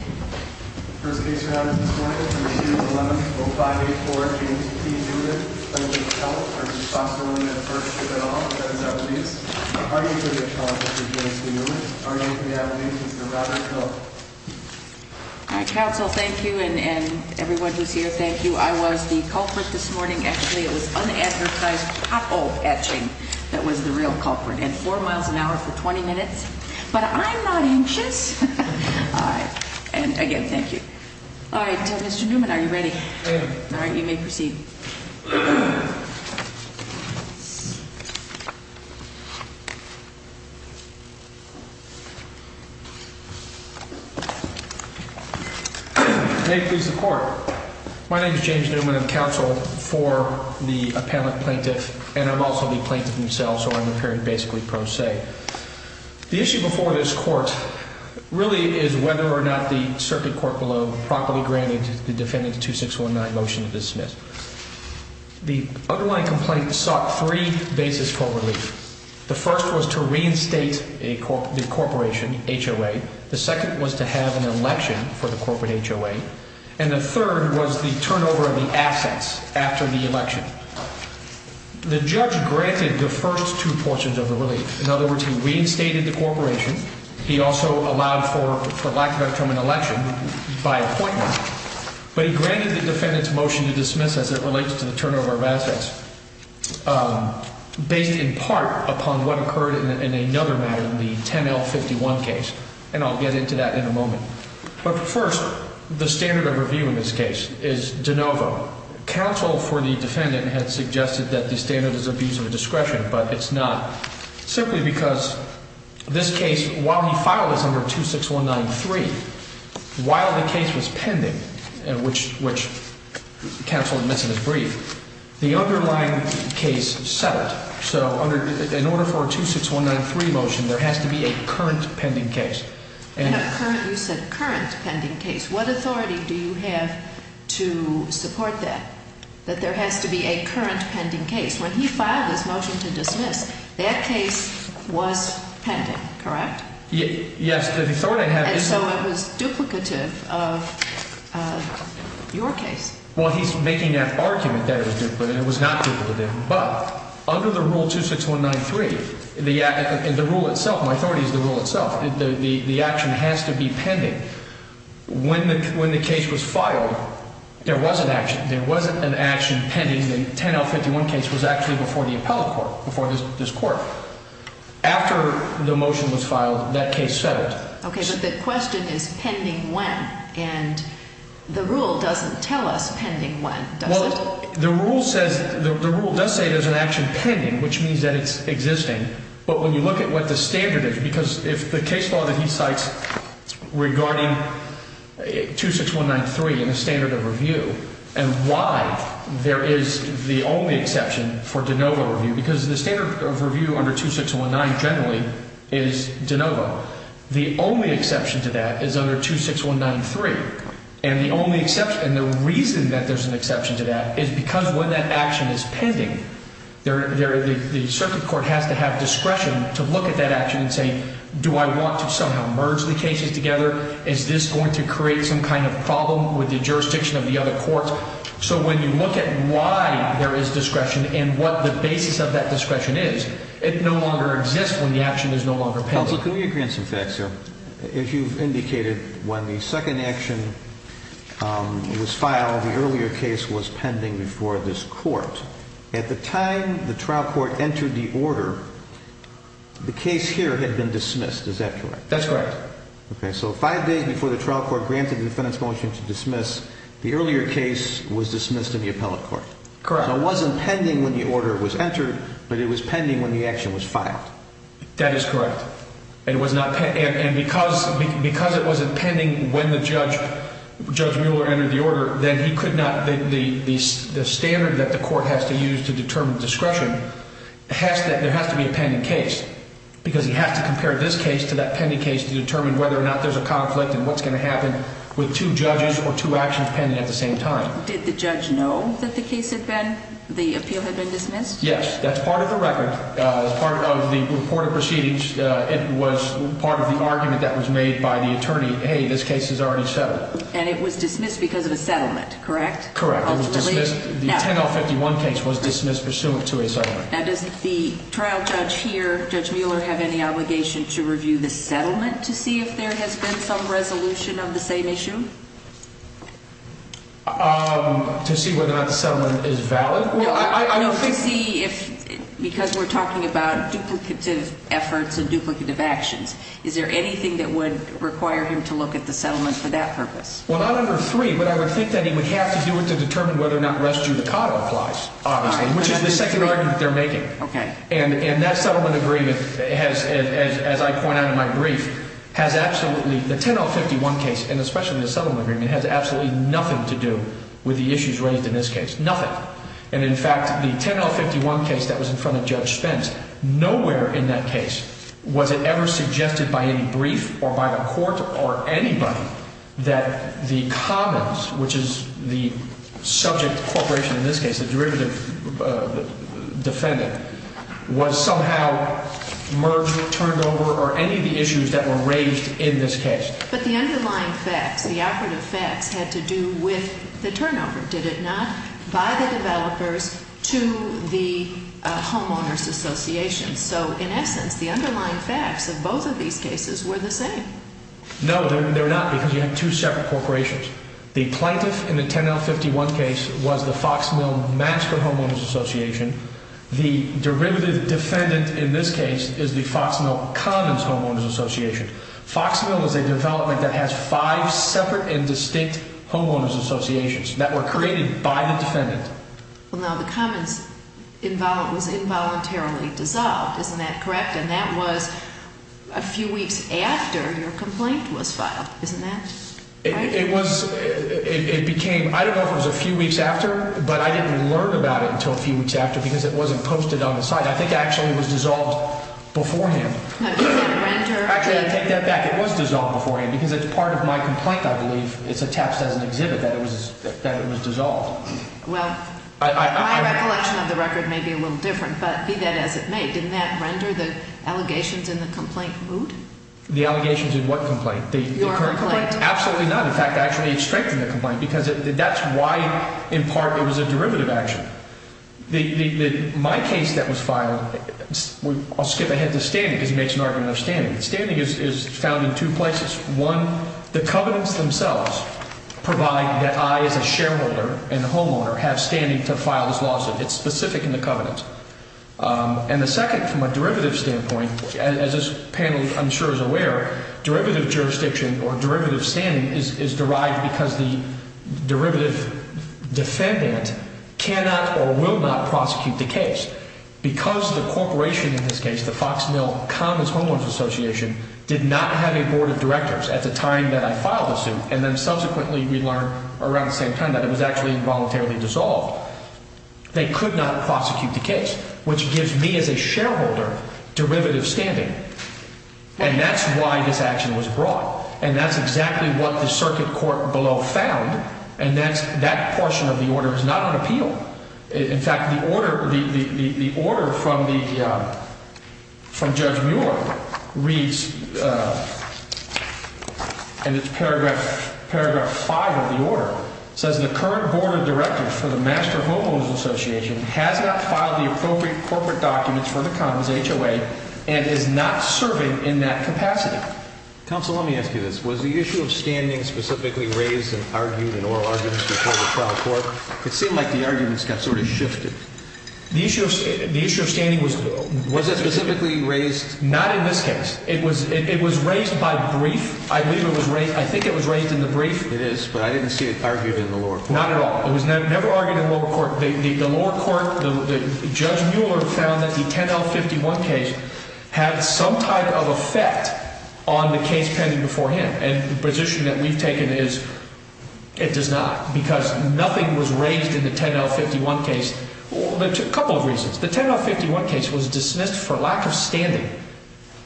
First case for honors this morning, proceeding with 11-0584, James P. Newman. I would like to call for his responsibility at first, if at all, as evidence. Are you for the charge, Mr. James P. Newman? Are you for the evidence, Mr. Robert Hill? All right, counsel, thank you, and everyone who's here, thank you. I was the culprit this morning. Actually, it was unadvertised pothole etching that was the real culprit. And four miles an hour for 20 minutes. But I'm not anxious. All right. And, again, thank you. All right, Mr. Newman, are you ready? I am. All right, you may proceed. May it please the Court. My name is James Newman. I'm counsel for the appellant plaintiff, and I'm also the plaintiff himself, so I'm appearing basically pro se. The issue before this Court really is whether or not the circuit court below properly granted the defendant's 2619 motion to dismiss. The underlying complaint sought three bases for relief. The first was to reinstate the corporation, HOA. The second was to have an election for the corporate HOA. And the third was the turnover of the assets after the election. The judge granted the first two portions of the relief. In other words, he reinstated the corporation. He also allowed for lack thereof an election by appointment. But he granted the defendant's motion to dismiss as it relates to the turnover of assets based in part upon what occurred in another matter in the 10L51 case. And I'll get into that in a moment. But first, the standard of review in this case is de novo. Counsel for the defendant had suggested that the standard is abuse of discretion, but it's not, simply because this case, while he filed this under 26193, while the case was pending, which counsel admits in his brief, the underlying case settled. So in order for a 26193 motion, there has to be a current pending case. You said current pending case. What authority do you have to support that, that there has to be a current pending case? When he filed this motion to dismiss, that case was pending, correct? Yes. And so it was duplicative of your case. Well, he's making that argument that it was not duplicative. But under the rule 26193, the rule itself, my authority is the rule itself, the action has to be pending. When the case was filed, there was an action. There wasn't an action pending. The 10L51 case was actually before the appellate court, before this court. After the motion was filed, that case settled. Okay, but the question is pending when. And the rule doesn't tell us pending when, does it? Well, the rule says, the rule does say there's an action pending, which means that it's existing. But when you look at what the standard is, because if the case law that he cites regarding 26193 in the standard of review, and why there is the only exception for de novo review, because the standard of review under 2619 generally is de novo. The only exception to that is under 26193. And the only exception, and the reason that there's an exception to that is because when that action is pending, the circuit court has to have discretion to look at that action and say, do I want to somehow merge the cases together? Is this going to create some kind of problem with the jurisdiction of the other courts? So when you look at why there is discretion and what the basis of that discretion is, it no longer exists when the action is no longer pending. Counsel, can we agree on some facts here? As you've indicated, when the second action was filed, the earlier case was pending before this court. At the time the trial court entered the order, the case here had been dismissed, is that correct? That's correct. Okay, so five days before the trial court granted the defendant's motion to dismiss, the earlier case was dismissed in the appellate court. Correct. So it wasn't pending when the order was entered, but it was pending when the action was filed. That is correct. And because it wasn't pending when Judge Mueller entered the order, then he could not – the standard that the court has to use to determine discretion, there has to be a pending case, because he has to compare this case to that pending case to determine whether or not there's a conflict and what's going to happen with two judges or two actions pending at the same time. Did the judge know that the case had been – the appeal had been dismissed? Yes, that's part of the record. As part of the reported proceedings, it was part of the argument that was made by the attorney, hey, this case is already settled. And it was dismissed because of a settlement, correct? Correct. It was dismissed – the 10-051 case was dismissed pursuant to a settlement. Now, does the trial judge here, Judge Mueller, have any obligation to review the settlement to see if there has been some resolution of the same issue? To see whether or not the settlement is valid? To see if – because we're talking about duplicative efforts and duplicative actions. Is there anything that would require him to look at the settlement for that purpose? Well, not under three, but I would think that he would have to do it to determine whether or not res judicato applies, obviously, which is the second argument they're making. Okay. And that settlement agreement has, as I point out in my brief, has absolutely – the 10-051 case, and especially the settlement agreement, has absolutely nothing to do with the issues raised in this case. Nothing. And, in fact, the 10-051 case that was in front of Judge Spence, nowhere in that case was it ever suggested by any brief or by a court or anybody that the commons, which is the subject corporation in this case, the derivative defendant, was somehow merged, turned over, or any of the issues that were raised in this case. But the underlying facts, the operative facts, had to do with the turnover, did it not? By the developers to the homeowners associations. So, in essence, the underlying facts of both of these cases were the same. No, they're not, because you have two separate corporations. The plaintiff in the 10-051 case was the Foxmill Master Homeowners Association. The derivative defendant in this case is the Foxmill Commons Homeowners Association. Foxmill is a development that has five separate and distinct homeowners associations that were created by the defendant. Well, now, the commons was involuntarily dissolved. Isn't that correct? And that was a few weeks after your complaint was filed. Isn't that right? It was. It became. I don't know if it was a few weeks after, but I didn't learn about it until a few weeks after because it wasn't posted on the site. I think it actually was dissolved beforehand. Now, does that render? Actually, I take that back. It was dissolved beforehand because it's part of my complaint, I believe. It's attached as an exhibit that it was dissolved. Well, my recollection of the record may be a little different, but be that as it may, didn't that render the allegations in the complaint moot? The allegations in what complaint? Your complaint. Absolutely not. In fact, I actually strengthened the complaint because that's why, in part, it was a derivative action. My case that was filed, I'll skip ahead to standing because he makes an argument of standing. Standing is found in two places. One, the covenants themselves provide that I, as a shareholder and a homeowner, have standing to file this lawsuit. It's specific in the covenants. And the second, from a derivative standpoint, as this panel, I'm sure, is aware, derivative jurisdiction or derivative standing is derived because the derivative defendant cannot or will not prosecute the case. Because the corporation in this case, the Fox Mill Commons Homeowners Association, did not have a board of directors at the time that I filed the suit, and then subsequently we learned around the same time that it was actually voluntarily dissolved, they could not prosecute the case, which gives me, as a shareholder, derivative standing. And that's why this action was brought. And that's exactly what the circuit court below found. And that portion of the order is not on appeal. In fact, the order from Judge Muir reads, and it's paragraph 5 of the order, says the current board of directors for the Master Homeowners Association has not filed the appropriate corporate documents for the Commons HOA and is not serving in that capacity. Counsel, let me ask you this. Was the issue of standing specifically raised and argued in oral arguments before the trial court? It seemed like the arguments got sort of shifted. The issue of standing was raised. Was it specifically raised? Not in this case. It was raised by brief. I think it was raised in the brief. It is, but I didn't see it argued in the lower court. Not at all. It was never argued in the lower court. The lower court, Judge Muir found that the 10L51 case had some type of effect on the case pending before him. And the position that we've taken is it does not because nothing was raised in the 10L51 case. A couple of reasons. The 10L51 case was dismissed for lack of standing.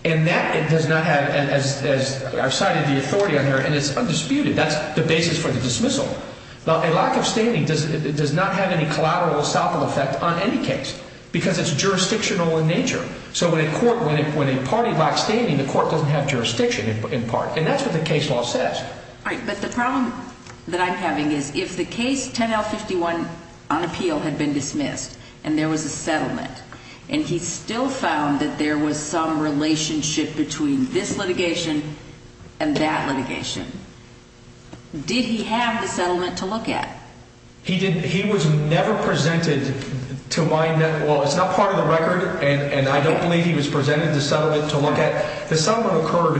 And that does not have, as I've cited the authority on here, and it's undisputed. That's the basis for the dismissal. Now, a lack of standing does not have any collateral assault effect on any case because it's jurisdictional in nature. So when a court, when a party lacks standing, the court doesn't have jurisdiction in part. And that's what the case law says. All right, but the problem that I'm having is if the case 10L51 on appeal had been dismissed and there was a settlement and he still found that there was some relationship between this litigation and that litigation, did he have the settlement to look at? He didn't. He was never presented to my net. Well, it's not part of the record, and I don't believe he was presented the settlement to look at. The settlement occurred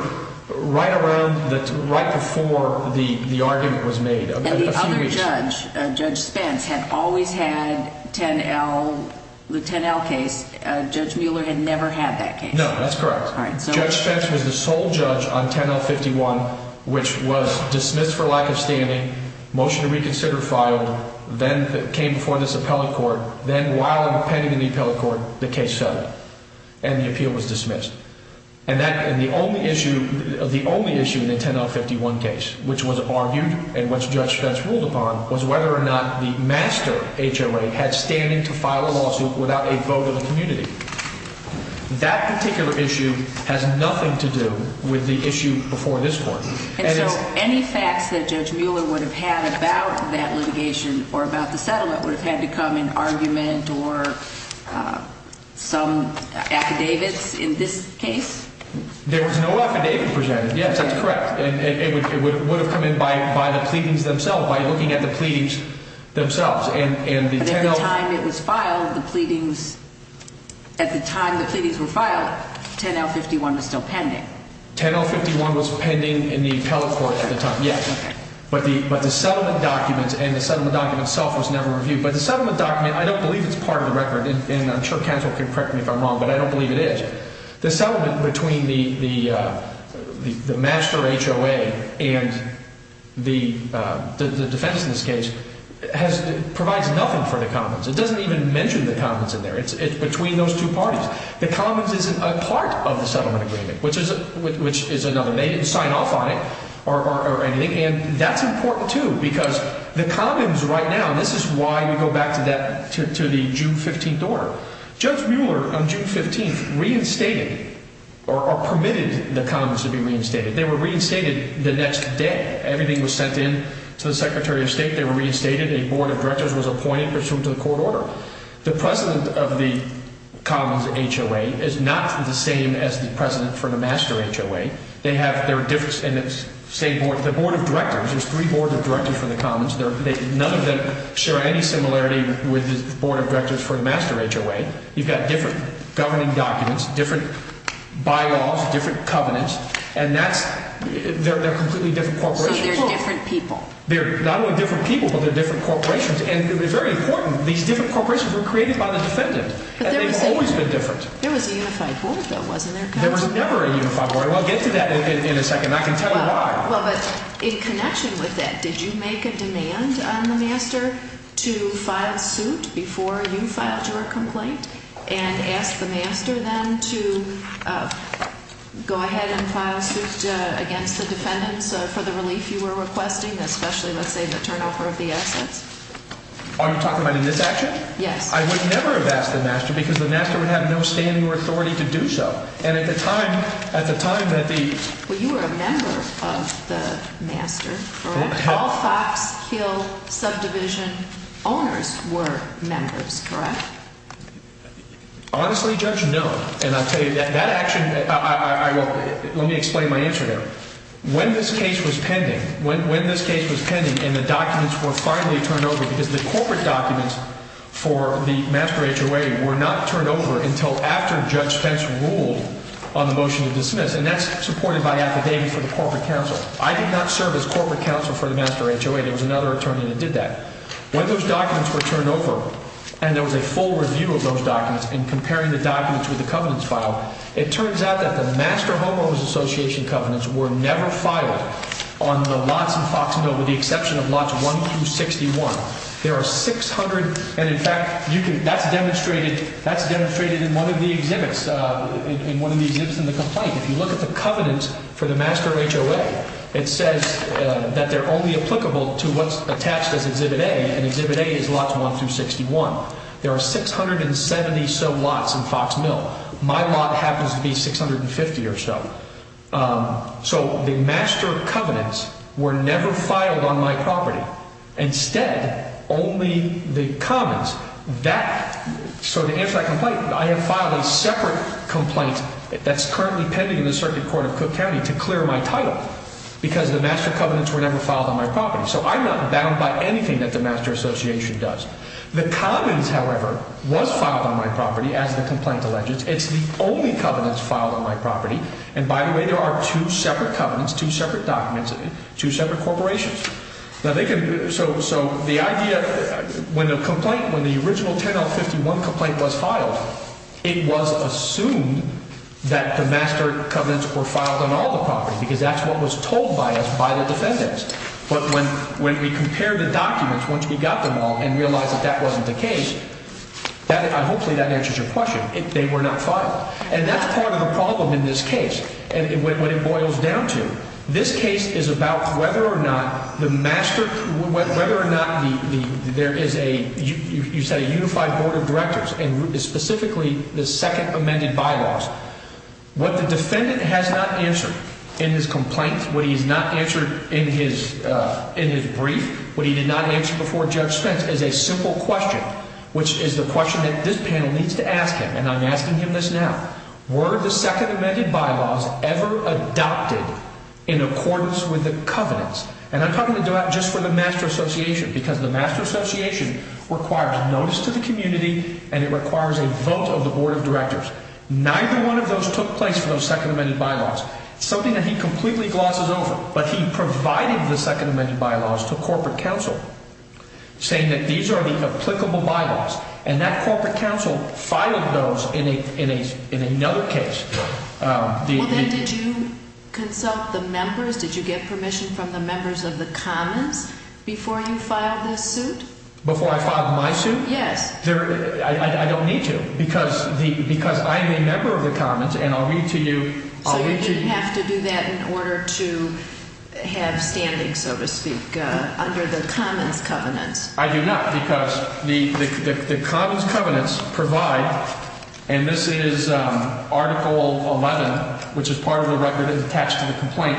right around, right before the argument was made. And the other judge, Judge Spence, had always had 10L, the 10L case. Judge Mueller had never had that case. No, that's correct. All right, so. Judge Spence was the sole judge on 10L51, which was dismissed for lack of standing, motion to reconsider filed, then came before this appellate court, then while I'm pending in the appellate court, the case settled. And the appeal was dismissed. And the only issue in the 10L51 case, which was argued and which Judge Spence ruled upon, was whether or not the master HLA had standing to file a lawsuit without a vote of the community. That particular issue has nothing to do with the issue before this court. And so any facts that Judge Mueller would have had about that litigation or about the settlement would have had to come in argument or some affidavits in this case? There was no affidavit presented. Yes, that's correct. It would have come in by the pleadings themselves, by looking at the pleadings themselves. But at the time it was filed, the pleadings, at the time the pleadings were filed, 10L51 was still pending. 10L51 was pending in the appellate court at the time, yes. But the settlement documents and the settlement document itself was never reviewed. But the settlement document, I don't believe it's part of the record. And I'm sure counsel can correct me if I'm wrong, but I don't believe it is. The settlement between the master HOA and the defense in this case provides nothing for the commons. It doesn't even mention the commons in there. It's between those two parties. The commons isn't a part of the settlement agreement, which is another. They didn't sign off on it or anything. And that's important, too, because the commons right now, this is why we go back to the June 15th order. Judge Mueller on June 15th reinstated or permitted the commons to be reinstated. They were reinstated the next day. Everything was sent in to the secretary of state. They were reinstated. A board of directors was appointed pursuant to the court order. The president of the commons HOA is not the same as the president for the master HOA. The board of directors, there's three boards of directors for the commons. None of them share any similarity with the board of directors for the master HOA. You've got different governing documents, different by-laws, different covenants, and they're completely different corporations. So they're different people. They're not only different people, but they're different corporations. And it's very important, these different corporations were created by the defendant. They've always been different. There was a unified board, though, wasn't there, counsel? There was never a unified board. We'll get to that in a second, and I can tell you why. Well, but in connection with that, did you make a demand on the master to file suit before you filed your complaint and ask the master then to go ahead and file suit against the defendants for the relief you were requesting, especially, let's say, the turnover of the assets? Are you talking about in this action? Yes. I would never have asked the master because the master would have no standing or authority to do so. And at the time that the – Well, you were a member of the master, correct? All Foxkill subdivision owners were members, correct? Honestly, Judge, no. And I'll tell you, that action – let me explain my answer there. When this case was pending, when this case was pending and the documents were finally turned over, because the corporate documents for the master HOA were not turned over until after Judge Pence ruled on the motion to dismiss, and that's supported by the affidavit for the corporate counsel. I did not serve as corporate counsel for the master HOA. There was another attorney that did that. When those documents were turned over and there was a full review of those documents and comparing the documents with the covenants filed, it turns out that the master homeowners association covenants were never filed on the lots in Foxkill with the exception of lots 1 through 61. There are 600 – and, in fact, you can – that's demonstrated – that's demonstrated in one of the exhibits, in one of the exhibits in the complaint. If you look at the covenants for the master HOA, it says that they're only applicable to what's attached as Exhibit A, and Exhibit A is lots 1 through 61. There are 670-so lots in Foxkill. My lot happens to be 650 or so. So the master covenants were never filed on my property. Instead, only the commons – that – so to answer that complaint, I have filed a separate complaint that's currently pending in the circuit court of Cook County to clear my title because the master covenants were never filed on my property. So I'm not bound by anything that the master association does. The commons, however, was filed on my property as the complaint alleges. It's the only covenants filed on my property. And, by the way, there are two separate covenants, two separate documents, two separate corporations. Now, they can – so the idea – when the complaint – when the original 10L51 complaint was filed, it was assumed that the master covenants were filed on all the property because that's what was told by us by the defendants. But when we compare the documents, once we got them all and realized that that wasn't the case, that – hopefully that answers your question. They were not filed. And that's part of the problem in this case and what it boils down to. This case is about whether or not the master – whether or not there is a – you said a unified board of directors and specifically the second amended bylaws. What the defendant has not answered in his complaint, what he has not answered in his brief, what he did not answer before Judge Spence is a simple question, which is the question that this panel needs to ask him, and I'm asking him this now. Were the second amended bylaws ever adopted in accordance with the covenants? And I'm talking about just for the master association because the master association requires notice to the community and it requires a vote of the board of directors. Neither one of those took place for those second amended bylaws. It's something that he completely glosses over, but he provided the second amended bylaws to corporate counsel saying that these are the applicable bylaws. And that corporate counsel filed those in another case. Well, then did you consult the members? Did you get permission from the members of the commons before you filed this suit? Before I filed my suit? Yes. I don't need to because I am a member of the commons and I'll read to you – So you didn't have to do that in order to have standing, so to speak, under the commons covenants. I do not because the commons covenants provide, and this is Article 11, which is part of the record attached to the complaint.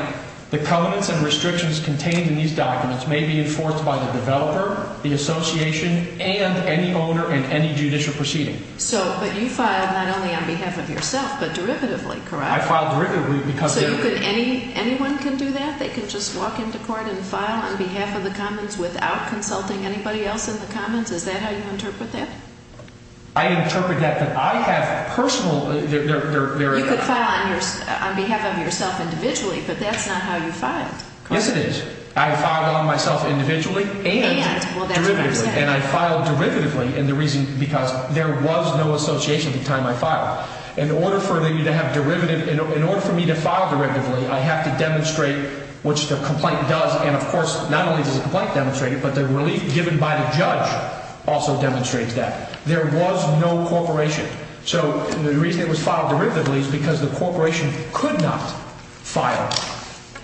The covenants and restrictions contained in these documents may be enforced by the developer, the association, and any owner in any judicial proceeding. So, but you filed not only on behalf of yourself but derivatively, correct? I filed derivatively because – So you could – anyone can do that? They can just walk into court and file on behalf of the commons without consulting anybody else in the commons? Is that how you interpret that? I interpret that, but I have personal – You could file on behalf of yourself individually, but that's not how you filed, correct? Yes, it is. I filed on myself individually and derivatively. And I filed derivatively because there was no association at the time I filed. In order for me to have derivative – in order for me to file derivatively, I have to demonstrate, which the complaint does, and of course not only does the complaint demonstrate it, but the relief given by the judge also demonstrates that. There was no corporation. So the reason it was filed derivatively is because the corporation could not file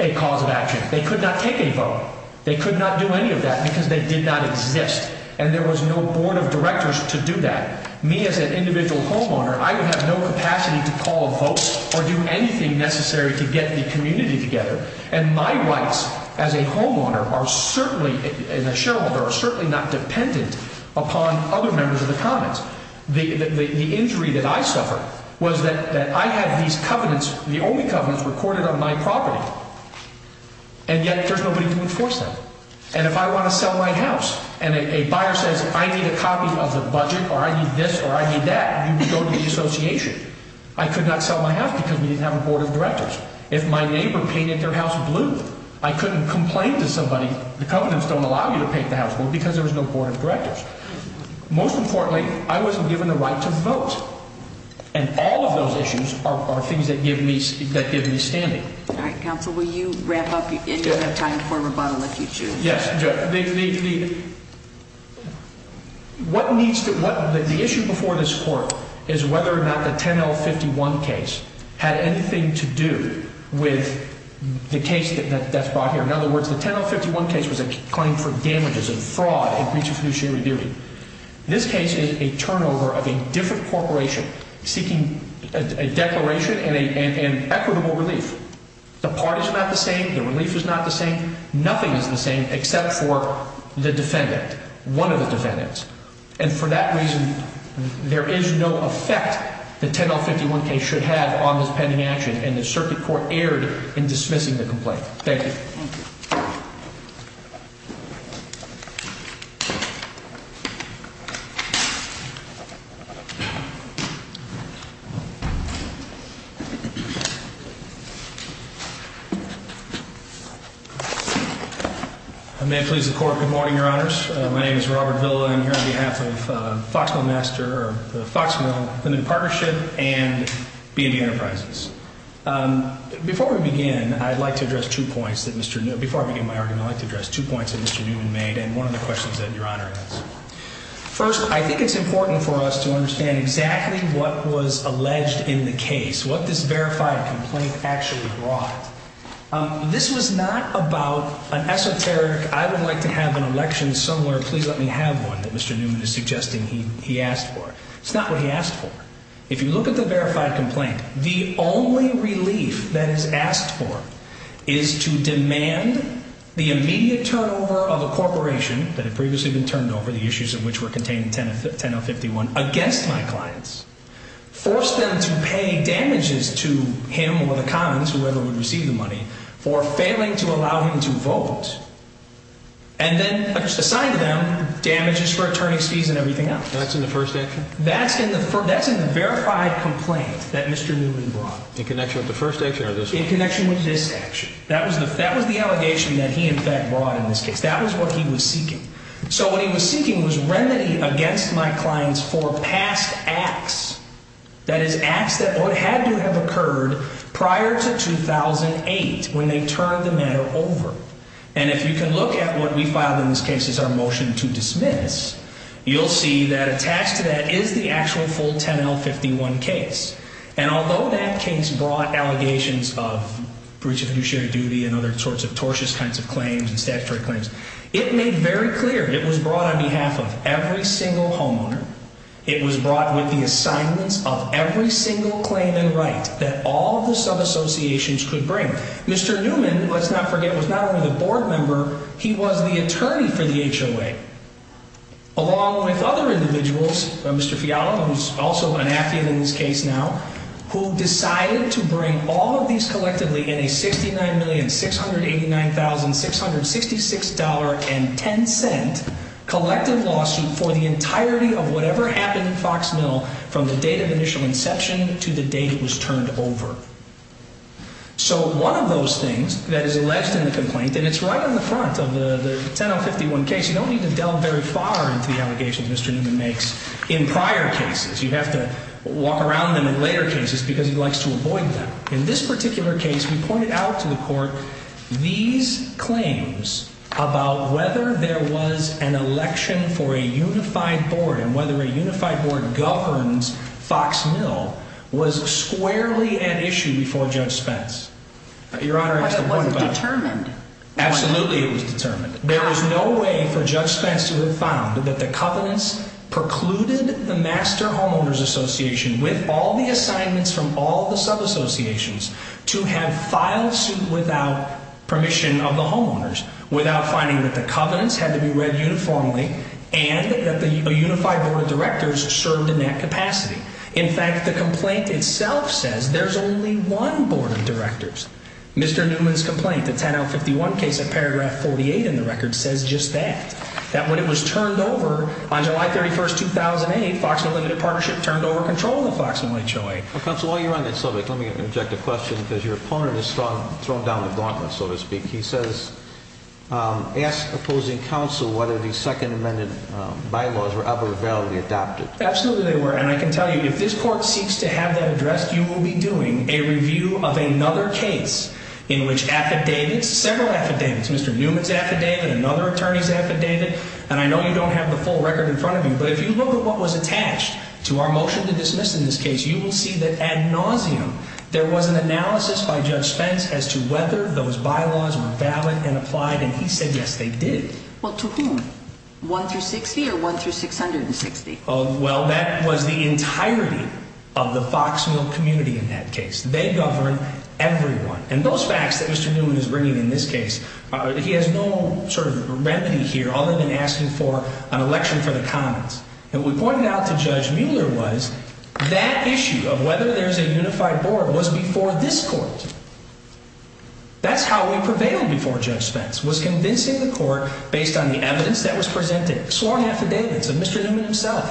a cause of action. They could not take a vote. They could not do any of that because they did not exist, and there was no board of directors to do that. Me as an individual homeowner, I would have no capacity to call a vote or do anything necessary to get the community together. And my rights as a homeowner are certainly – and a shareholder – are certainly not dependent upon other members of the commons. The injury that I suffered was that I had these covenants, the only covenants, recorded on my property, and yet there's nobody to enforce them. And if I want to sell my house and a buyer says, I need a copy of the budget or I need this or I need that, you go to the association. I could not sell my house because we didn't have a board of directors. If my neighbor painted their house blue, I couldn't complain to somebody. The covenants don't allow you to paint the house blue because there was no board of directors. Most importantly, I wasn't given the right to vote. And all of those issues are things that give me standing. All right, counsel, will you wrap up? And you'll have time for rebuttal if you choose. Yes. The issue before this court is whether or not the 10L51 case had anything to do with the case that's brought here. In other words, the 10L51 case was a claim for damages and fraud in breach of fiduciary duty. This case is a turnover of a different corporation seeking a declaration and equitable relief. The parties are not the same. The relief is not the same. Nothing is the same except for the defendant, one of the defendants. And for that reason, there is no effect the 10L51 case should have on this pending action, and the circuit court erred in dismissing the complaint. Thank you. Thank you. I may please the court. Good morning, Your Honors. My name is Robert Villa. I'm here on behalf of Foxmill Master or the Foxmill Limited Partnership and B&B Enterprises. Before I begin my argument, I'd like to address two points that Mr. Newman made and one of the questions that Your Honor asked. First, I think it's important for us to understand exactly what was alleged in the case, what this verified complaint actually brought. This was not about an esoteric, I would like to have an election somewhere, please let me have one, that Mr. Newman is suggesting he asked for. It's not what he asked for. If you look at the verified complaint, the only relief that is asked for is to demand the immediate turnover of a corporation that had previously been turned over, the issues of which were contained in 10L51, against my clients, force them to pay damages to him or the commons, whoever would receive the money, for failing to allow him to vote, and then assign to them damages for attorney's fees and everything else. That's in the first action? That's in the verified complaint that Mr. Newman brought. In connection with the first action or this one? In connection with this action. That was the allegation that he, in fact, brought in this case. That was what he was seeking. So what he was seeking was remedy against my clients for past acts, that is, acts that would have had to have occurred prior to 2008, when they turned the matter over. And if you can look at what we filed in this case as our motion to dismiss, you'll see that attached to that is the actual full 10L51 case. And although that case brought allegations of breach of fiduciary duty and other sorts of tortious kinds of claims and statutory claims, it made very clear it was brought on behalf of every single homeowner. It was brought with the assignments of every single claim and right that all the sub-associations could bring. Mr. Newman, let's not forget, was not only the board member, he was the attorney for the HOA, along with other individuals, Mr. Fiala, who's also an affidavit in this case now, who decided to bring all of these collectively in a $69,689,666.10 collective lawsuit for the entirety of whatever happened in Fox Mill from the date of initial inception to the date it was turned over. So one of those things that is alleged in the complaint, and it's right on the front of the 10L51 case, you don't need to delve very far into the allegations Mr. Newman makes in prior cases. You have to walk around them in later cases because he likes to avoid them. In this particular case, we pointed out to the court these claims about whether there was an election for a unified board and whether a unified board governs Fox Mill was squarely at issue before Judge Spence. But it wasn't determined. Absolutely it was determined. There is no way for Judge Spence to have found that the covenants precluded the Master Homeowners Association, with all the assignments from all the sub-associations, to have filed suit without permission of the homeowners, without finding that the covenants had to be read uniformly and that the unified board of directors served in that capacity. In fact, the complaint itself says there's only one board of directors. Mr. Newman's complaint, the 10L51 case at paragraph 48 in the record, says just that. That when it was turned over on July 31st, 2008, Fox Mill Limited Partnership turned over control of Fox Mill HOA. Counsel, while you're on that subject, let me interject a question because your opponent has thrown down the gauntlet, so to speak. He says, asked opposing counsel whether the Second Amendment bylaws were ever validly adopted. Absolutely they were. And I can tell you, if this court seeks to have that addressed, you will be doing a review of another case in which affidavits, several affidavits, Mr. Newman's affidavit, another attorney's affidavit, and I know you don't have the full record in front of you, but if you look at what was attached to our motion to dismiss in this case, you will see that ad nauseam there was an analysis by Judge Spence as to whether those bylaws were valid and applied, and he said yes they did. Well, to whom? One through 60 or one through 660? Well, that was the entirety of the Fox Mill community in that case. They govern everyone. And those facts that Mr. Newman is bringing in this case, he has no sort of remedy here other than asking for an election for the commons. And what we pointed out to Judge Mueller was that issue of whether there's a unified board was before this court. That's how we prevailed before Judge Spence, was convincing the court based on the evidence that was presented, sworn affidavits of Mr. Newman himself,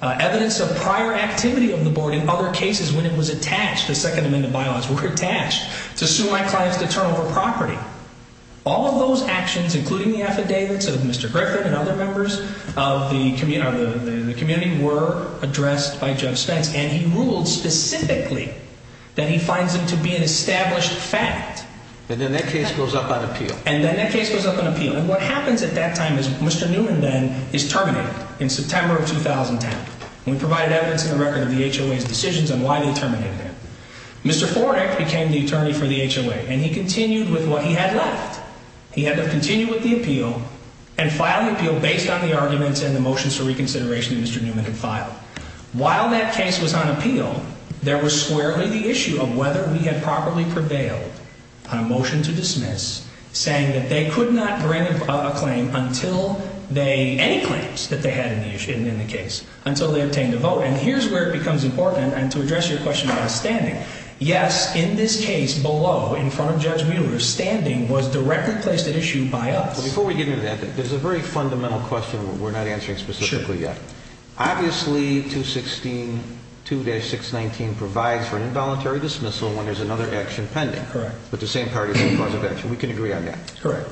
evidence of prior activity of the board in other cases when it was attached, the Second Amendment bylaws were attached, to sue my clients to turn over property. All of those actions, including the affidavits of Mr. Griffin and other members of the community, were addressed by Judge Spence, and he ruled specifically that he finds them to be an established fact. And then that case goes up on appeal. And then that case goes up on appeal. And what happens at that time is Mr. Newman then is terminated in September of 2010. We provided evidence in the record of the HOA's decisions on why they terminated him. Mr. Fornek became the attorney for the HOA, and he continued with what he had left. He had to continue with the appeal and file the appeal based on the arguments and the motions for reconsideration that Mr. Newman had filed. While that case was on appeal, there was squarely the issue of whether we had properly prevailed on a motion to dismiss, saying that they could not grant a claim until they, any claims that they had in the case, until they obtained a vote. And here's where it becomes important, and to address your question about standing. Yes, in this case below, in front of Judge Mueller, standing was directly placed at issue by us. Before we get into that, there's a very fundamental question we're not answering specifically yet. Obviously, 216.2-619 provides for an involuntary dismissal when there's another action pending. Correct. But the same party is the cause of action. We can agree on that. Correct.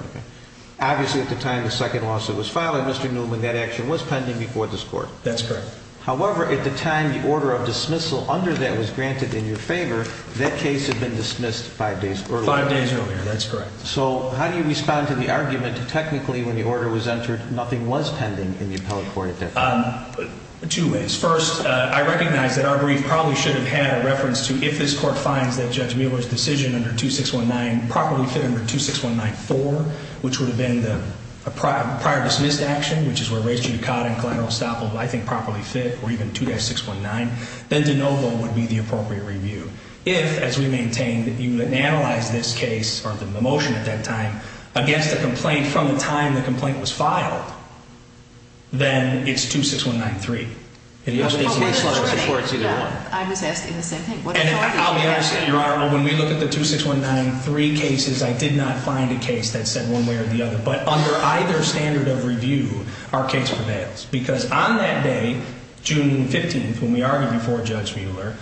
Obviously, at the time the second lawsuit was filed on Mr. Newman, that action was pending before this court. That's correct. However, at the time the order of dismissal under that was granted in your favor, that case had been dismissed five days earlier. Five days earlier, that's correct. So how do you respond to the argument that technically when the order was entered, nothing was pending in the appellate court at that time? Two ways. First, I recognize that our brief probably should have had a reference to, if this court finds that Judge Mueller's decision under 2619 properly fit under 2619-4, which would have been a prior-dismissed action, which is where race judicata and collateral estoppel, I think, properly fit, or even 2-619, then de novo would be the appropriate review. If, as we maintain, you analyze this case, or the motion at that time, against the complaint from the time the complaint was filed, then it's 2619-3. It's either one. I was asking the same thing. I'll be honest with you, Your Honor. When we look at the 2619-3 cases, I did not find a case that said one way or the other. But under either standard of review, our case prevails because on that day, June 15th, when we argued before Judge Mueller,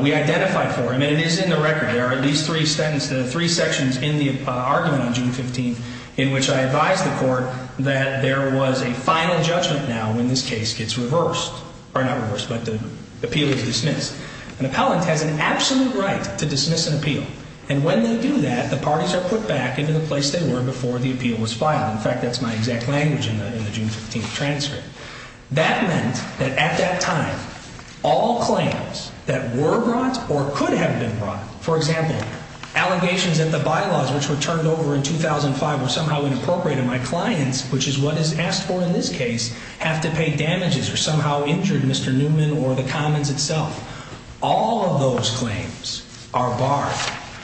we identified for him, and it is in the record. There are at least three sections in the argument on June 15th in which I advised the court that there was a final judgment now when this case gets reversed. Or not reversed, but the appeal is dismissed. An appellant has an absolute right to dismiss an appeal. And when they do that, the parties are put back into the place they were before the appeal was filed. In fact, that's my exact language in the June 15th transcript. That meant that at that time, all claims that were brought or could have been brought, for example, allegations that the bylaws which were turned over in 2005 were somehow inappropriate and my clients, which is what is asked for in this case, have to pay damages or somehow injured Mr. Newman or the commons itself. All of those claims are barred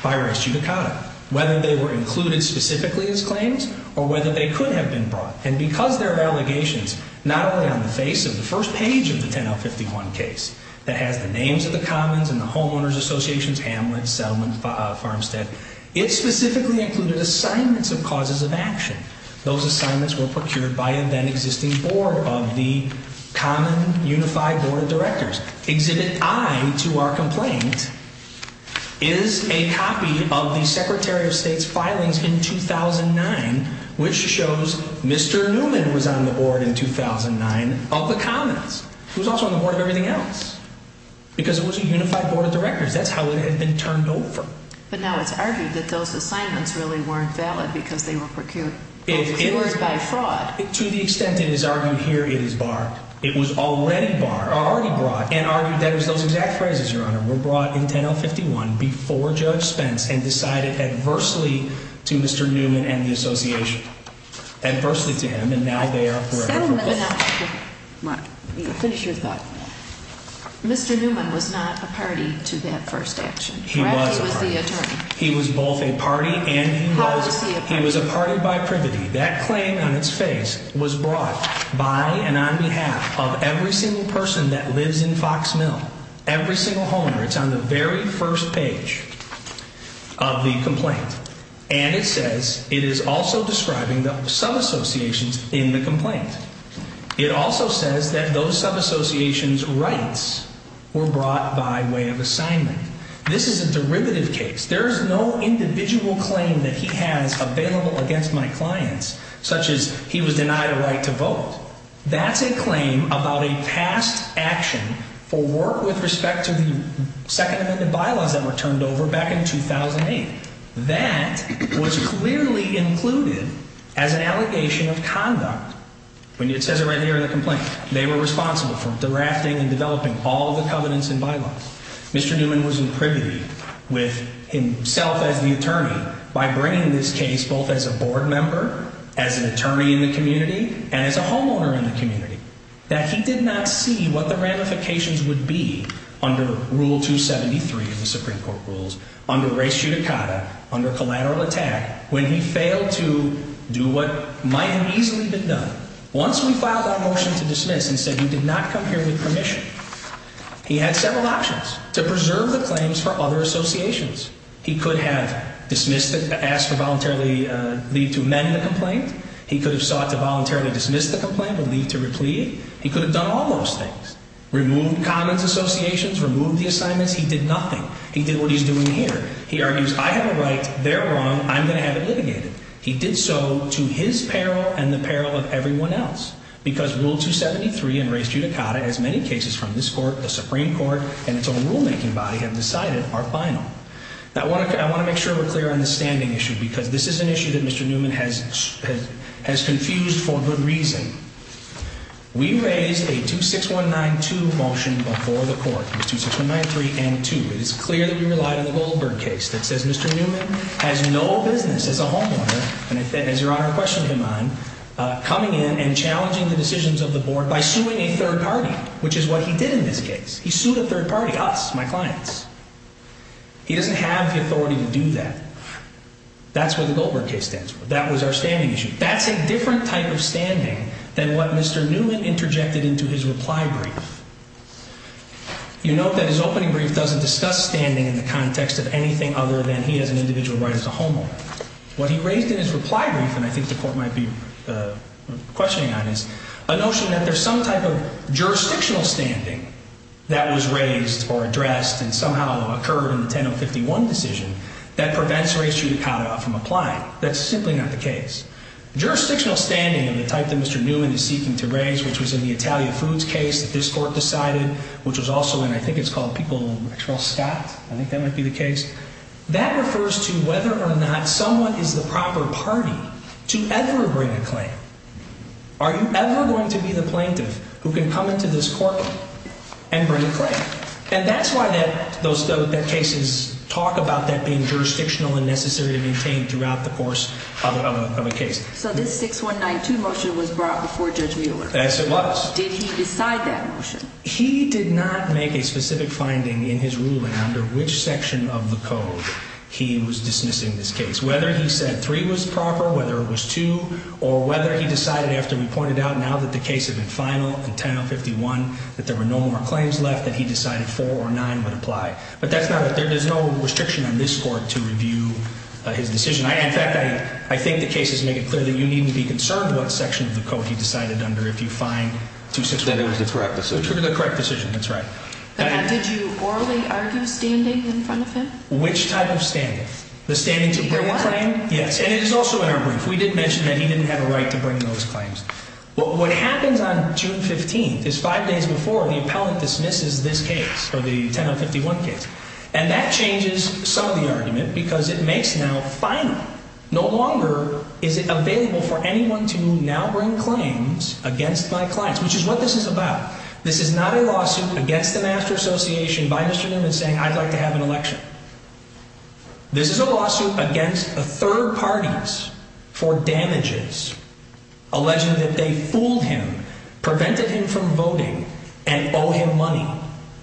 by res judicata, whether they were included specifically as claims or whether they could have been brought. And because there are allegations not only on the face of the first page of the 10L51 case that has the names of the commons and the homeowners associations, Hamlet, Settlement, Farmstead, it specifically included assignments of causes of action. Those assignments were procured by the then existing board of the common unified board of directors. Exhibit I to our complaint is a copy of the Secretary of State's filings in 2009 which shows Mr. Newman was on the board in 2009 of the commons. He was also on the board of everything else because it was a unified board of directors. That's how it had been turned over. But now it's argued that those assignments really weren't valid because they were procured by fraud. To the extent it is argued here, it is barred. It was already brought and argued that it was those exact phrases, Your Honor, were brought in 10L51 before Judge Spence and decided adversely to Mr. Newman and the association. Adversely to him, and now they are forever forgiven. Mr. Newman was not a party to that first action. He was a party. He was both a party and he was a party by privity. That claim on its face was brought by and on behalf of every single person that lives in Fox Mill, every single homeowner. It's on the very first page of the complaint. And it says it is also describing the sub-associations in the complaint. It also says that those sub-associations' rights were brought by way of assignment. This is a derivative case. There is no individual claim that he has available against my clients such as he was denied a right to vote. That's a claim about a past action for work with respect to the Second Amendment bylaws that were turned over back in 2008. That was clearly included as an allegation of conduct. It says it right here in the complaint. They were responsible for drafting and developing all the covenants and bylaws. Mr. Newman was in privity with himself as the attorney by bringing this case both as a board member, as an attorney in the community, and as a homeowner in the community. That he did not see what the ramifications would be under Rule 273 of the Supreme Court rules, under res judicata, under collateral attack, when he failed to do what might have easily been done. Once we filed our motion to dismiss and said he did not come here with permission, he had several options to preserve the claims for other associations. He could have dismissed it, asked to voluntarily leave to amend the complaint. He could have sought to voluntarily dismiss the complaint or leave to replea. He could have done all those things. Removed common associations, removed the assignments. He did nothing. He did what he's doing here. He argues I have a right, they're wrong, I'm going to have it litigated. He did so to his peril and the peril of everyone else because Rule 273 and res judicata, as many cases from this court, the Supreme Court, and its own rulemaking body have decided, are final. I want to make sure we're clear on the standing issue because this is an issue that Mr. Newman has confused for good reason. We raised a 26192 motion before the court, 26193 and 2. It is clear that we relied on the Goldberg case that says Mr. Newman has no business as a homeowner, and as Your Honor questioned him on, coming in and challenging the decisions of the board by suing a third party, which is what he did in this case. He sued a third party, us, my clients. He doesn't have the authority to do that. That's where the Goldberg case stands. That was our standing issue. That's a different type of standing than what Mr. Newman interjected into his reply brief. You note that his opening brief doesn't discuss standing in the context of anything other than he has an individual right as a homeowner. What he raised in his reply brief, and I think the court might be questioning on this, a notion that there's some type of jurisdictional standing that was raised or addressed and somehow occurred in the 10051 decision that prevents race judicata from applying. That's simply not the case. Jurisdictional standing of the type that Mr. Newman is seeking to raise, which was in the Italia Foods case that this court decided, which was also in, I think it's called, people, I think that might be the case. That refers to whether or not someone is the proper party to ever bring a claim. Are you ever going to be the plaintiff who can come into this courtroom and bring a claim? And that's why those cases talk about that being jurisdictional and necessary to maintain throughout the course of a case. So this 6192 motion was brought before Judge Mueller. Yes, it was. Did he decide that motion? He did not make a specific finding in his ruling under which section of the code he was dismissing this case, whether he said 3 was proper, whether it was 2, or whether he decided after we pointed out now that the case had been final in 10051 that there were no more claims left that he decided 4 or 9 would apply. But that's not it. There's no restriction on this court to review his decision. In fact, I think the cases make it clear that you needn't be concerned what section of the code he decided under if you find 261. That it was the correct decision. The correct decision, that's right. Did you orally argue standing in front of him? Which type of standing? The standing to bring a claim? Yes, and it is also in our brief. We did mention that he didn't have a right to bring those claims. What happens on June 15th is 5 days before the appellant dismisses this case, or the 10051 case. And that changes some of the argument because it makes now final. No longer is it available for anyone to now bring claims against my clients, which is what this is about. This is not a lawsuit against the Master Association by Mr. Newman saying I'd like to have an election. This is a lawsuit against third parties for damages alleging that they fooled him, prevented him from voting, and owe him money.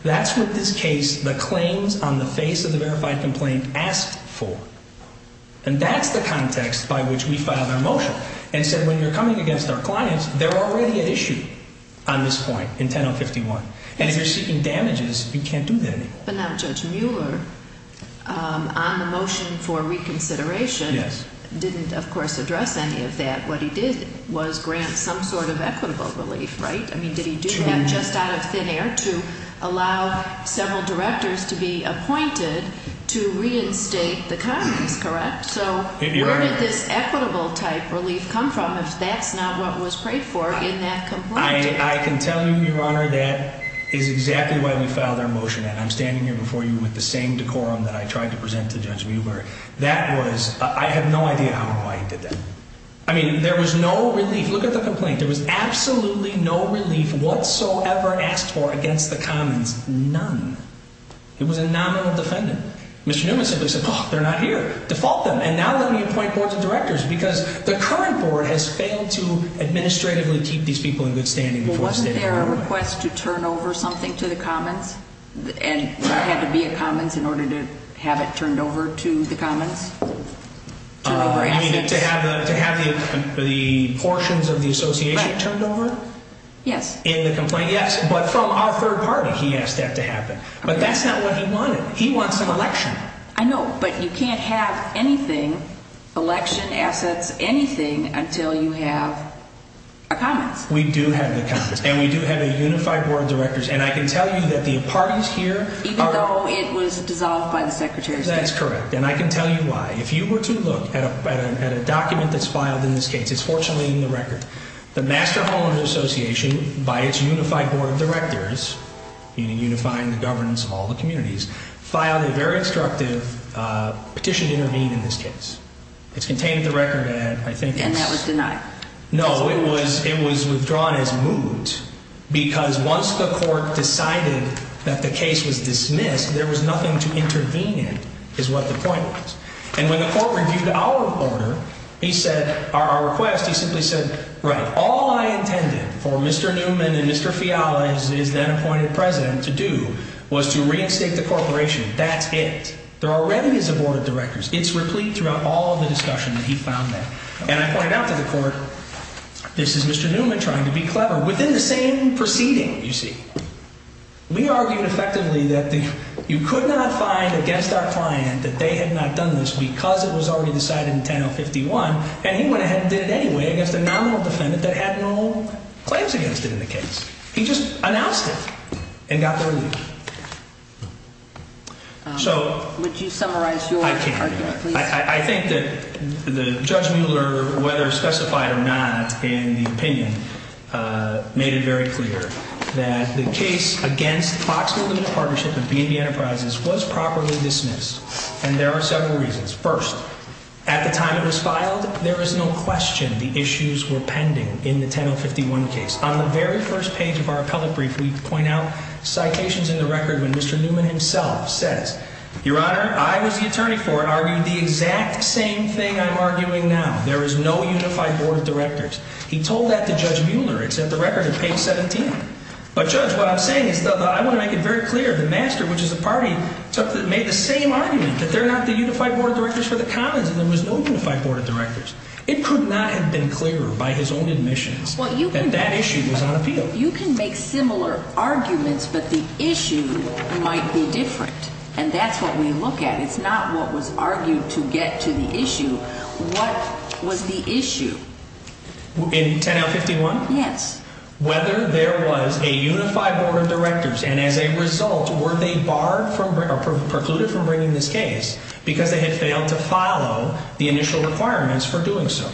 That's what this case, the claims on the face of the verified complaint, asked for. And that's the context by which we filed our motion. And said when you're coming against our clients, they're already at issue on this point in 10051. And if you're seeking damages, you can't do that anymore. But now Judge Mueller, on the motion for reconsideration, didn't of course address any of that. What he did was grant some sort of equitable relief, right? I mean, did he do that just out of thin air to allow several directors to be appointed to reinstate the Congress, correct? So where did this equitable type relief come from if that's not what was prayed for in that complaint? I can tell you, Your Honor, that is exactly why we filed our motion. And I'm standing here before you with the same decorum that I tried to present to Judge Mueller. That was – I have no idea how and why he did that. I mean, there was no relief. Look at the complaint. There was absolutely no relief whatsoever asked for against the commons. None. It was a nominal defendant. Mr. Newman simply said, oh, they're not here. Default them. And now let me appoint boards of directors because the current board has failed to administratively keep these people in good standing. Wasn't there a request to turn over something to the commons? And there had to be a commons in order to have it turned over to the commons? You mean to have the portions of the association turned over? Yes. In the complaint? Yes. But from our third party he asked that to happen. But that's not what he wanted. He wants an election. I know. But you can't have anything, election assets, anything, until you have a commons. We do have the commons. And we do have a unified board of directors. And I can tell you that the parties here are – Even though it was dissolved by the Secretary of State. That's correct. And I can tell you why. If you were to look at a document that's filed in this case, it's fortunately in the record, the Master Holder Association, by its unified board of directors, meaning unifying the governance of all the communities, filed a very instructive petition to intervene in this case. It's contained in the record that I think it's – And that was denied. No, it was withdrawn as moved because once the court decided that the case was dismissed, there was nothing to intervene in, is what the point was. And when the court reviewed our order, our request, he simply said, right, all I intended for Mr. Newman and Mr. Fiala, who is then appointed president, to do was to reinstate the corporation. That's it. There are remedies of board of directors. It's replete throughout all the discussion that he found there. And I pointed out to the court, this is Mr. Newman trying to be clever. Within the same proceeding, you see, we argued effectively that you could not find against our client that they had not done this because it was already decided in 10-051, and he went ahead and did it anyway against a nominal defendant that had no claims against it in the case. He just announced it and got their leave. Would you summarize your argument, please? I think that Judge Mueller, whether specified or not in the opinion, made it very clear that the case against Foxwill Limited Partnership and B&B Enterprises was properly dismissed, and there are several reasons. First, at the time it was filed, there was no question the issues were pending in the 10-051 case. On the very first page of our appellate brief, we point out citations in the record when Mr. Newman himself says, Your Honor, I was the attorney for it. Are we the exact same thing I'm arguing now? There is no unified board of directors. He told that to Judge Mueller. It's at the record at page 17. But, Judge, what I'm saying is I want to make it very clear. The master, which is the party, made the same argument that they're not the unified board of directors for the commons, and there was no unified board of directors. It could not have been clearer by his own admissions that that issue was on appeal. You can make similar arguments, but the issue might be different, and that's what we look at. It's not what was argued to get to the issue. What was the issue? In 10-051? Yes. Whether there was a unified board of directors, and as a result, were they barred or precluded from bringing this case because they had failed to follow the initial requirements for doing so.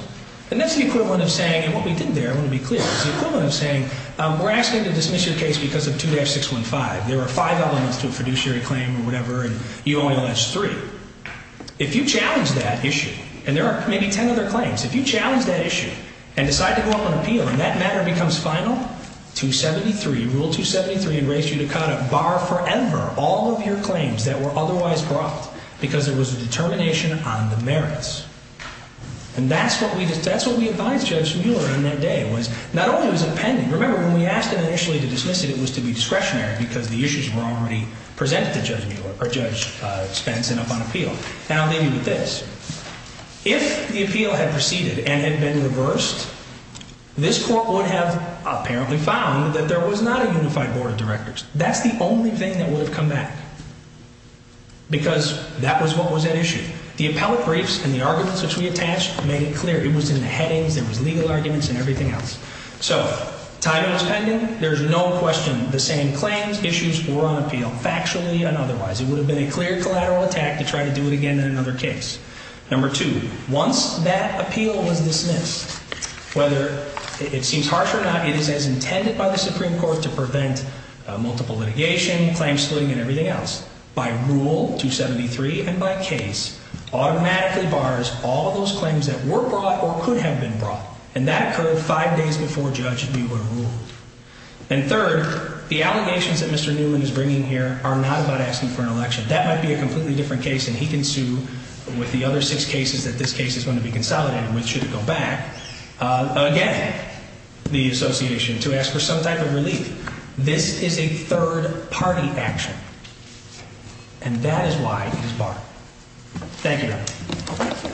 And that's the equivalent of saying, and what we did there, I want to be clear, is the equivalent of saying we're asking to dismiss your case because of 2-615. There are five elements to a fiduciary claim or whatever, and you only allege three. If you challenge that issue, and there are maybe 10 other claims, if you challenge that issue and decide to go up on appeal and that matter becomes final, Rule 273 would raise you to cut, bar forever, all of your claims that were otherwise brought because there was a determination on the merits. And that's what we advised Judge Mueller in that day. Not only was it pending, remember, when we asked him initially to dismiss it, it was to be discretionary because the issues were already presented to Judge Spence and up on appeal. Now, I'll leave you with this. If the appeal had proceeded and had been reversed, this Court would have apparently found that there was not a unified board of directors. That's the only thing that would have come back because that was what was at issue. The appellate briefs and the arguments which we attached made it clear. It was in the headings. There was legal arguments and everything else. So, title is pending. There's no question. The same claims, issues were on appeal, factually and otherwise. It would have been a clear collateral attack to try to do it again in another case. Number two, once that appeal was dismissed, whether it seems harsh or not, it is as intended by the Supreme Court to prevent multiple litigation, claim splitting, and everything else. By rule 273 and by case, automatically bars all of those claims that were brought or could have been brought. And that occurred five days before judge knew what rule. And third, the allegations that Mr. Newman is bringing here are not about asking for an election. That might be a completely different case, and he can sue with the other six cases that this case is going to be consolidated with, should it go back, again, the association, to ask for some type of relief. This is a third-party action. And that is why it is barred. Thank you. Thank you.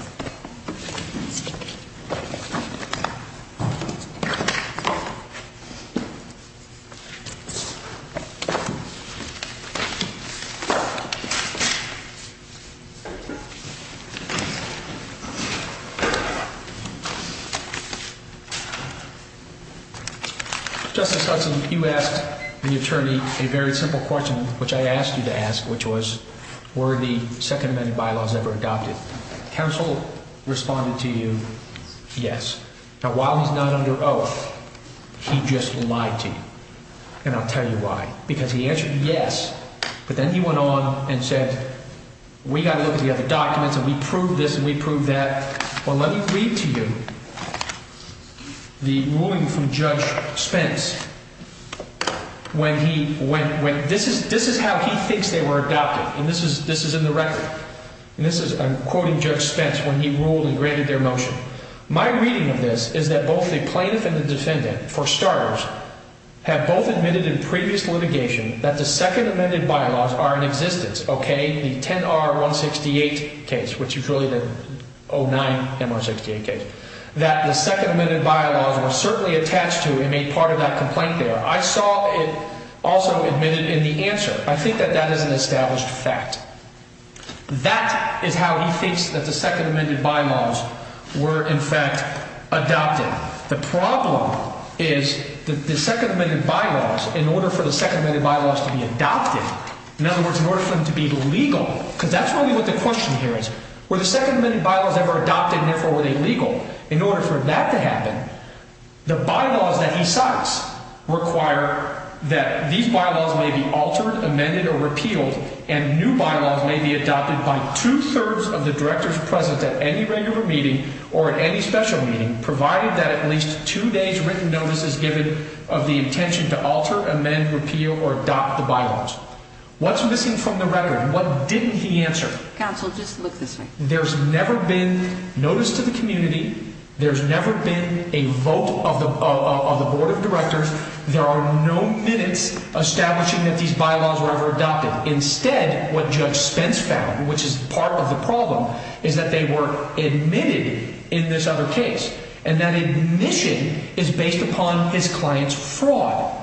Justice Hudson, you asked the attorney a very simple question, which I asked you to ask, which was were the Second Amendment bylaws ever adopted? Counsel responded to you, yes. Now, while he's not under oath, he just lied to you. And I'll tell you why. Because he answered yes, but then he went on and said, we got to look at the other documents and we proved this and we proved that. Well, let me read to you the ruling from Judge Spence when he went, this is how he thinks they were adopted. And this is in the record. And this is, I'm quoting Judge Spence when he ruled and granted their motion. My reading of this is that both the plaintiff and the defendant, for starters, have both admitted in previous litigation that the Second Amendment bylaws are in existence. Okay? The 10R168 case, which is really the 09MR68 case, that the Second Amendment bylaws were certainly attached to and made part of that complaint there. I saw it also admitted in the answer. I think that that is an established fact. That is how he thinks that the Second Amendment bylaws were, in fact, adopted. The problem is that the Second Amendment bylaws, in order for the Second Amendment bylaws to be adopted, in other words, in order for them to be legal, because that's really what the question here is, were the Second Amendment bylaws ever adopted and, therefore, were they legal? In order for that to happen, the bylaws that he cites require that these bylaws may be altered, amended, or repealed, and new bylaws may be adopted by two-thirds of the directors present at any regular meeting or at any special meeting, provided that at least two days' written notice is given of the intention to alter, amend, repeal, or adopt the bylaws. What's missing from the record? What didn't he answer? Counsel, just look this way. There's never been notice to the community. There's never been a vote of the board of directors. There are no minutes establishing that these bylaws were ever adopted. Instead, what Judge Spence found, which is part of the problem, is that they were admitted in this other case, and that admission is based upon his client's fraud,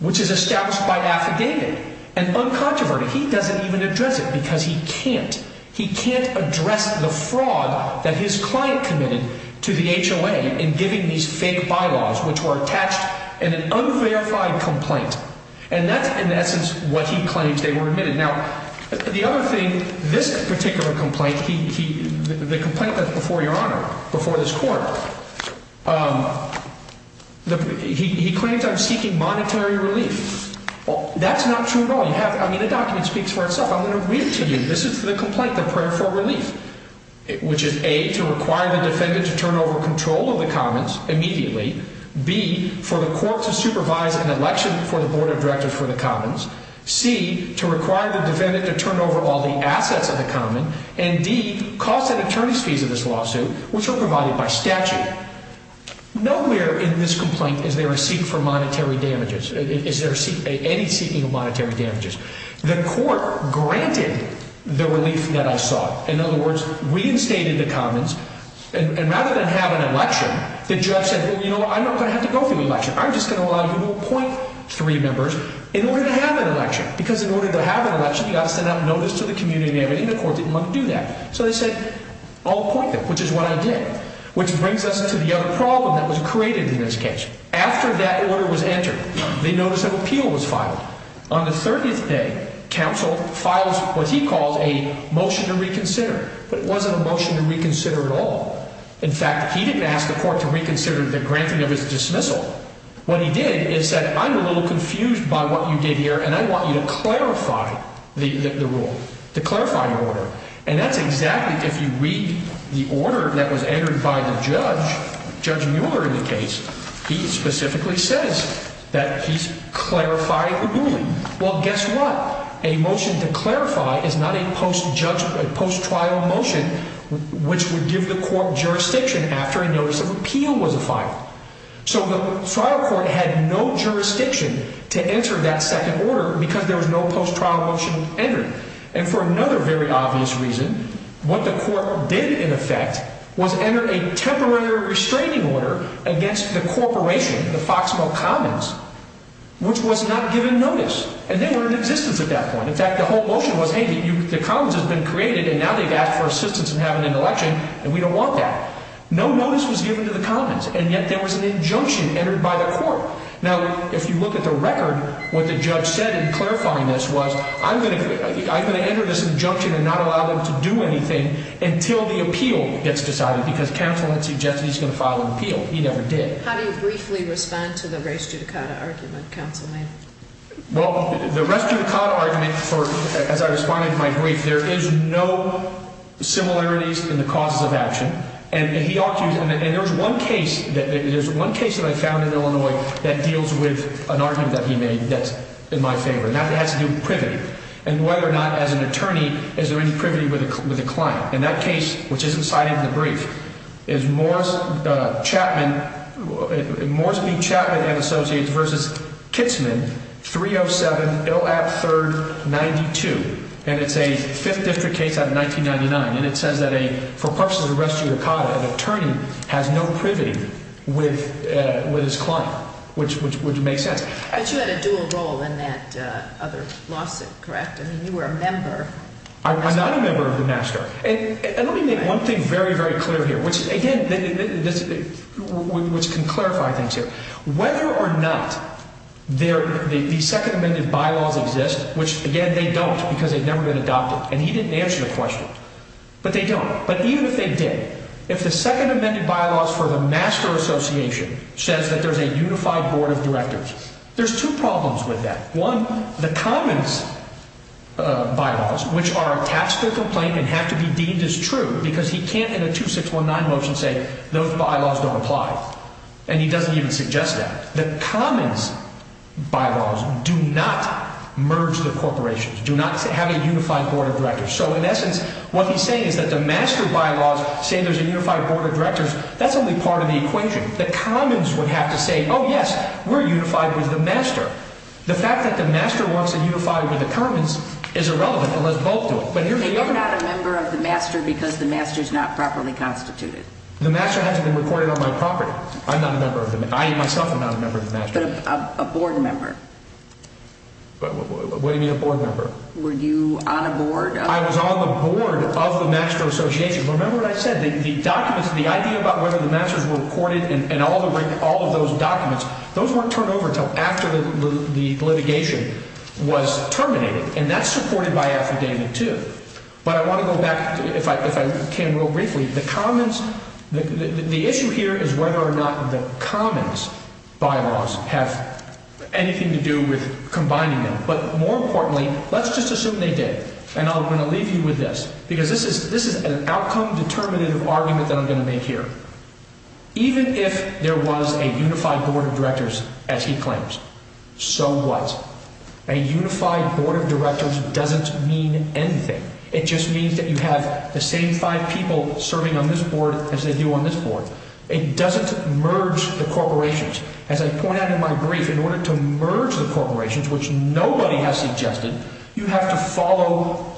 which is established by affidavit and uncontroverted. He doesn't even address it because he can't. He can't address the fraud that his client committed to the HOA in giving these fake bylaws, which were attached in an unverified complaint. And that's, in essence, what he claims they were admitted. Now, the other thing, this particular complaint, the complaint that's before Your Honor, before this court, he claims I'm seeking monetary relief. That's not true at all. I mean, the document speaks for itself. I'm going to read it to you. This is the complaint, the prayer for relief, which is A, to require the defendant to turn over control of the commons immediately. B, for the court to supervise an election for the board of directors for the commons. C, to require the defendant to turn over all the assets of the common. And D, cost and attorney's fees of this lawsuit, which are provided by statute. Nowhere in this complaint is there a seeking for monetary damages. Is there any seeking of monetary damages? The court granted the relief that I sought. In other words, reinstated the commons. And rather than have an election, the judge said, well, you know what, I'm not going to have to go through an election. I'm just going to allow you to appoint three members in order to have an election. Because in order to have an election, you've got to send out notice to the community and everything. The court didn't want to do that. So they said, I'll appoint them, which is what I did. Which brings us to the other problem that was created in this case. After that order was entered, they noticed an appeal was filed. On the 30th day, counsel files what he calls a motion to reconsider. But it wasn't a motion to reconsider at all. In fact, he didn't ask the court to reconsider the granting of his dismissal. What he did is said, I'm a little confused by what you did here, and I want you to clarify the rule, to clarify your order. And that's exactly, if you read the order that was entered by the judge, Judge Mueller in the case, he specifically says that he's clarifying the ruling. Well, guess what? A motion to clarify is not a post-trial motion which would give the court jurisdiction after a notice of appeal was filed. So the trial court had no jurisdiction to enter that second order because there was no post-trial motion entered. And for another very obvious reason, what the court did, in effect, was enter a temporary restraining order against the corporation, the Foxmo Commons, which was not given notice. And they were in existence at that point. In fact, the whole motion was, hey, the Commons has been created, and now they've asked for assistance in having an election, and we don't want that. No notice was given to the Commons, and yet there was an injunction entered by the court. Now, if you look at the record, what the judge said in clarifying this was, I'm going to enter this injunction and not allow them to do anything until the appeal gets decided because counsel has suggested he's going to file an appeal. He never did. How do you briefly respond to the res judicata argument, counsel? Well, the res judicata argument, as I responded to my brief, there is no similarities in the causes of action. And there's one case that I found in Illinois that deals with an argument that he made that's in my favor, and that has to do with privity and whether or not, as an attorney, is there any privity with a client. And that case, which isn't cited in the brief, is Morris B. Chapman & Associates v. Kitzman, 307-IL-AB-3-92, and it's a 5th District case out of 1999. And it says that for purposes of res judicata, an attorney has no privity with his client, which makes sense. But you had a dual role in that other lawsuit, correct? I'm not a member of the master. And let me make one thing very, very clear here, which, again, can clarify things here. Whether or not the second amended bylaws exist, which, again, they don't because they've never been adopted, and he didn't answer the question, but they don't. But even if they did, if the second amended bylaws for the master association says that there's a unified board of directors, there's two problems with that. One, the commons bylaws, which are attached to the complaint and have to be deemed as true because he can't, in a 2619 motion, say those bylaws don't apply. And he doesn't even suggest that. The commons bylaws do not merge the corporations, do not have a unified board of directors. So, in essence, what he's saying is that the master bylaws say there's a unified board of directors. That's only part of the equation. The commons would have to say, oh, yes, we're unified with the master. The fact that the master wants to unify with the commons is irrelevant unless both do it. They are not a member of the master because the master is not properly constituted. The master hasn't been recorded on my property. I'm not a member of the master. I, myself, am not a member of the master. But a board member. What do you mean a board member? Were you on a board? I was on the board of the master association. Remember what I said. The documents, the idea about whether the masters were recorded and all of those documents, those weren't turned over until after the litigation was terminated. And that's supported by affidavit 2. But I want to go back, if I can, real briefly. The commons, the issue here is whether or not the commons bylaws have anything to do with combining them. But, more importantly, let's just assume they did. And I'm going to leave you with this. Because this is an outcome-determinative argument that I'm going to make here. Even if there was a unified board of directors, as he claims, so what? A unified board of directors doesn't mean anything. It just means that you have the same five people serving on this board as they do on this board. It doesn't merge the corporations. As I point out in my brief, in order to merge the corporations, which nobody has suggested, you have to follow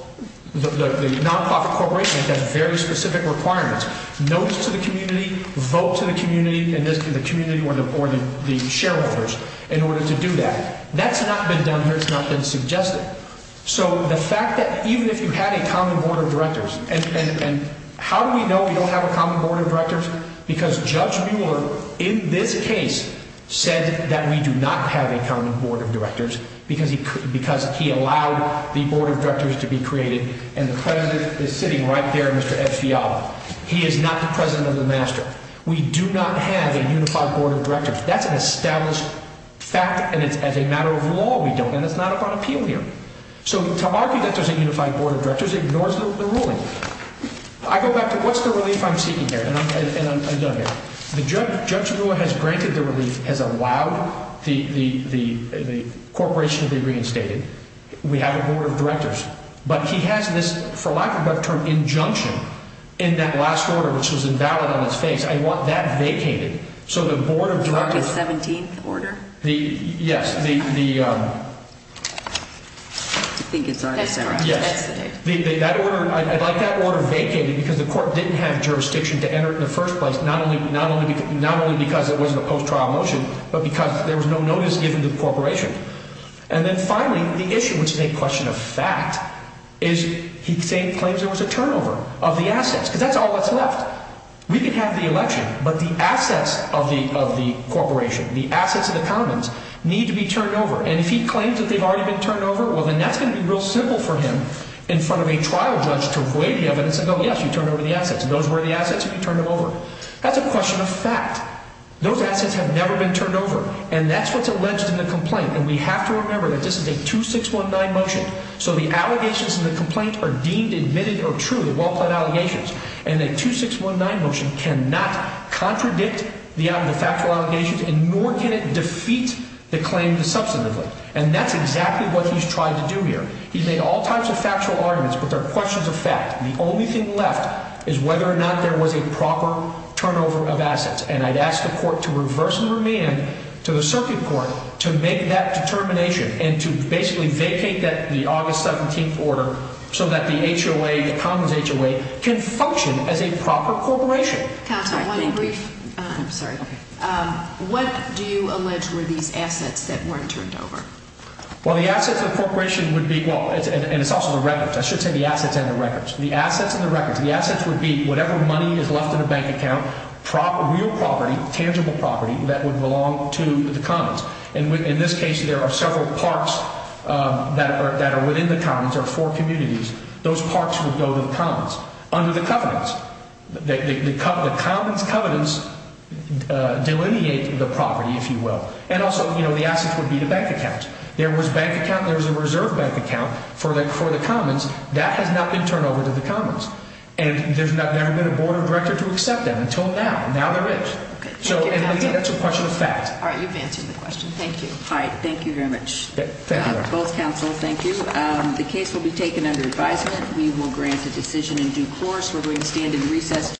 the nonprofit corporation. It has very specific requirements. Notice to the community, vote to the community or the shareholders in order to do that. That's not been done here. It's not been suggested. So the fact that even if you had a common board of directors, and how do we know we don't have a common board of directors? Because Judge Mueller, in this case, said that we do not have a common board of directors because he allowed the board of directors to be created. And the president is sitting right there, Mr. Ed Fiala. He is not the president of the master. We do not have a unified board of directors. That's an established fact, and as a matter of law, we don't. And it's not up on appeal here. So to argue that there's a unified board of directors ignores the ruling. I go back to what's the relief I'm seeking here? And I'm done here. Judge Mueller has granted the relief, has allowed the corporation to be reinstated. We have a board of directors. But he has this, for lack of a better term, injunction in that last order, which was invalid on its face. I want that vacated. The August 17th order? Yes. I think it's August 17th. I'd like that order vacated because the court didn't have jurisdiction to enter it in the first place, not only because it wasn't a post-trial motion, but because there was no notice given to the corporation. And then finally, the issue, which is a question of fact, is he claims there was a turnover of the assets. Because that's all that's left. We can have the election, but the assets of the corporation, the assets of the commons, need to be turned over. And if he claims that they've already been turned over, well, then that's going to be real simple for him in front of a trial judge to evade the evidence and go, yes, you turned over the assets, and those were the assets, and you turned them over. That's a question of fact. Those assets have never been turned over. And that's what's alleged in the complaint. And we have to remember that this is a 2619 motion. So the allegations in the complaint are deemed, admitted, or true, the well-planned allegations. And a 2619 motion cannot contradict the factual allegations, and nor can it defeat the claim substantively. And that's exactly what he's tried to do here. He's made all types of factual arguments, but they're questions of fact. The only thing left is whether or not there was a proper turnover of assets. And I'd ask the court to reverse the remand to the circuit court to make that determination and to basically vacate the August 17th order so that the HOA, the Commons HOA, can function as a proper corporation. Counsel, one in brief. I'm sorry. What do you allege were these assets that weren't turned over? Well, the assets of the corporation would be, well, and it's also the records. I should say the assets and the records. The assets and the records. The assets would be whatever money is left in a bank account, real property, tangible property that would belong to the Commons. And in this case, there are several parks that are within the Commons. There are four communities. Those parks would go to the Commons under the covenants. The Commons covenants delineate the property, if you will. And also, you know, the assets would be the bank account. There was a bank account and there was a reserve bank account for the Commons. That has not been turned over to the Commons. And there's never been a board or director to accept that until now. Now there is. So, and again, that's a question of fact. All right, you've answered the question. Thank you. All right, thank you very much. Both counsels, thank you. The case will be taken under advisement. We will grant a decision in due course. We're going to stand in recess.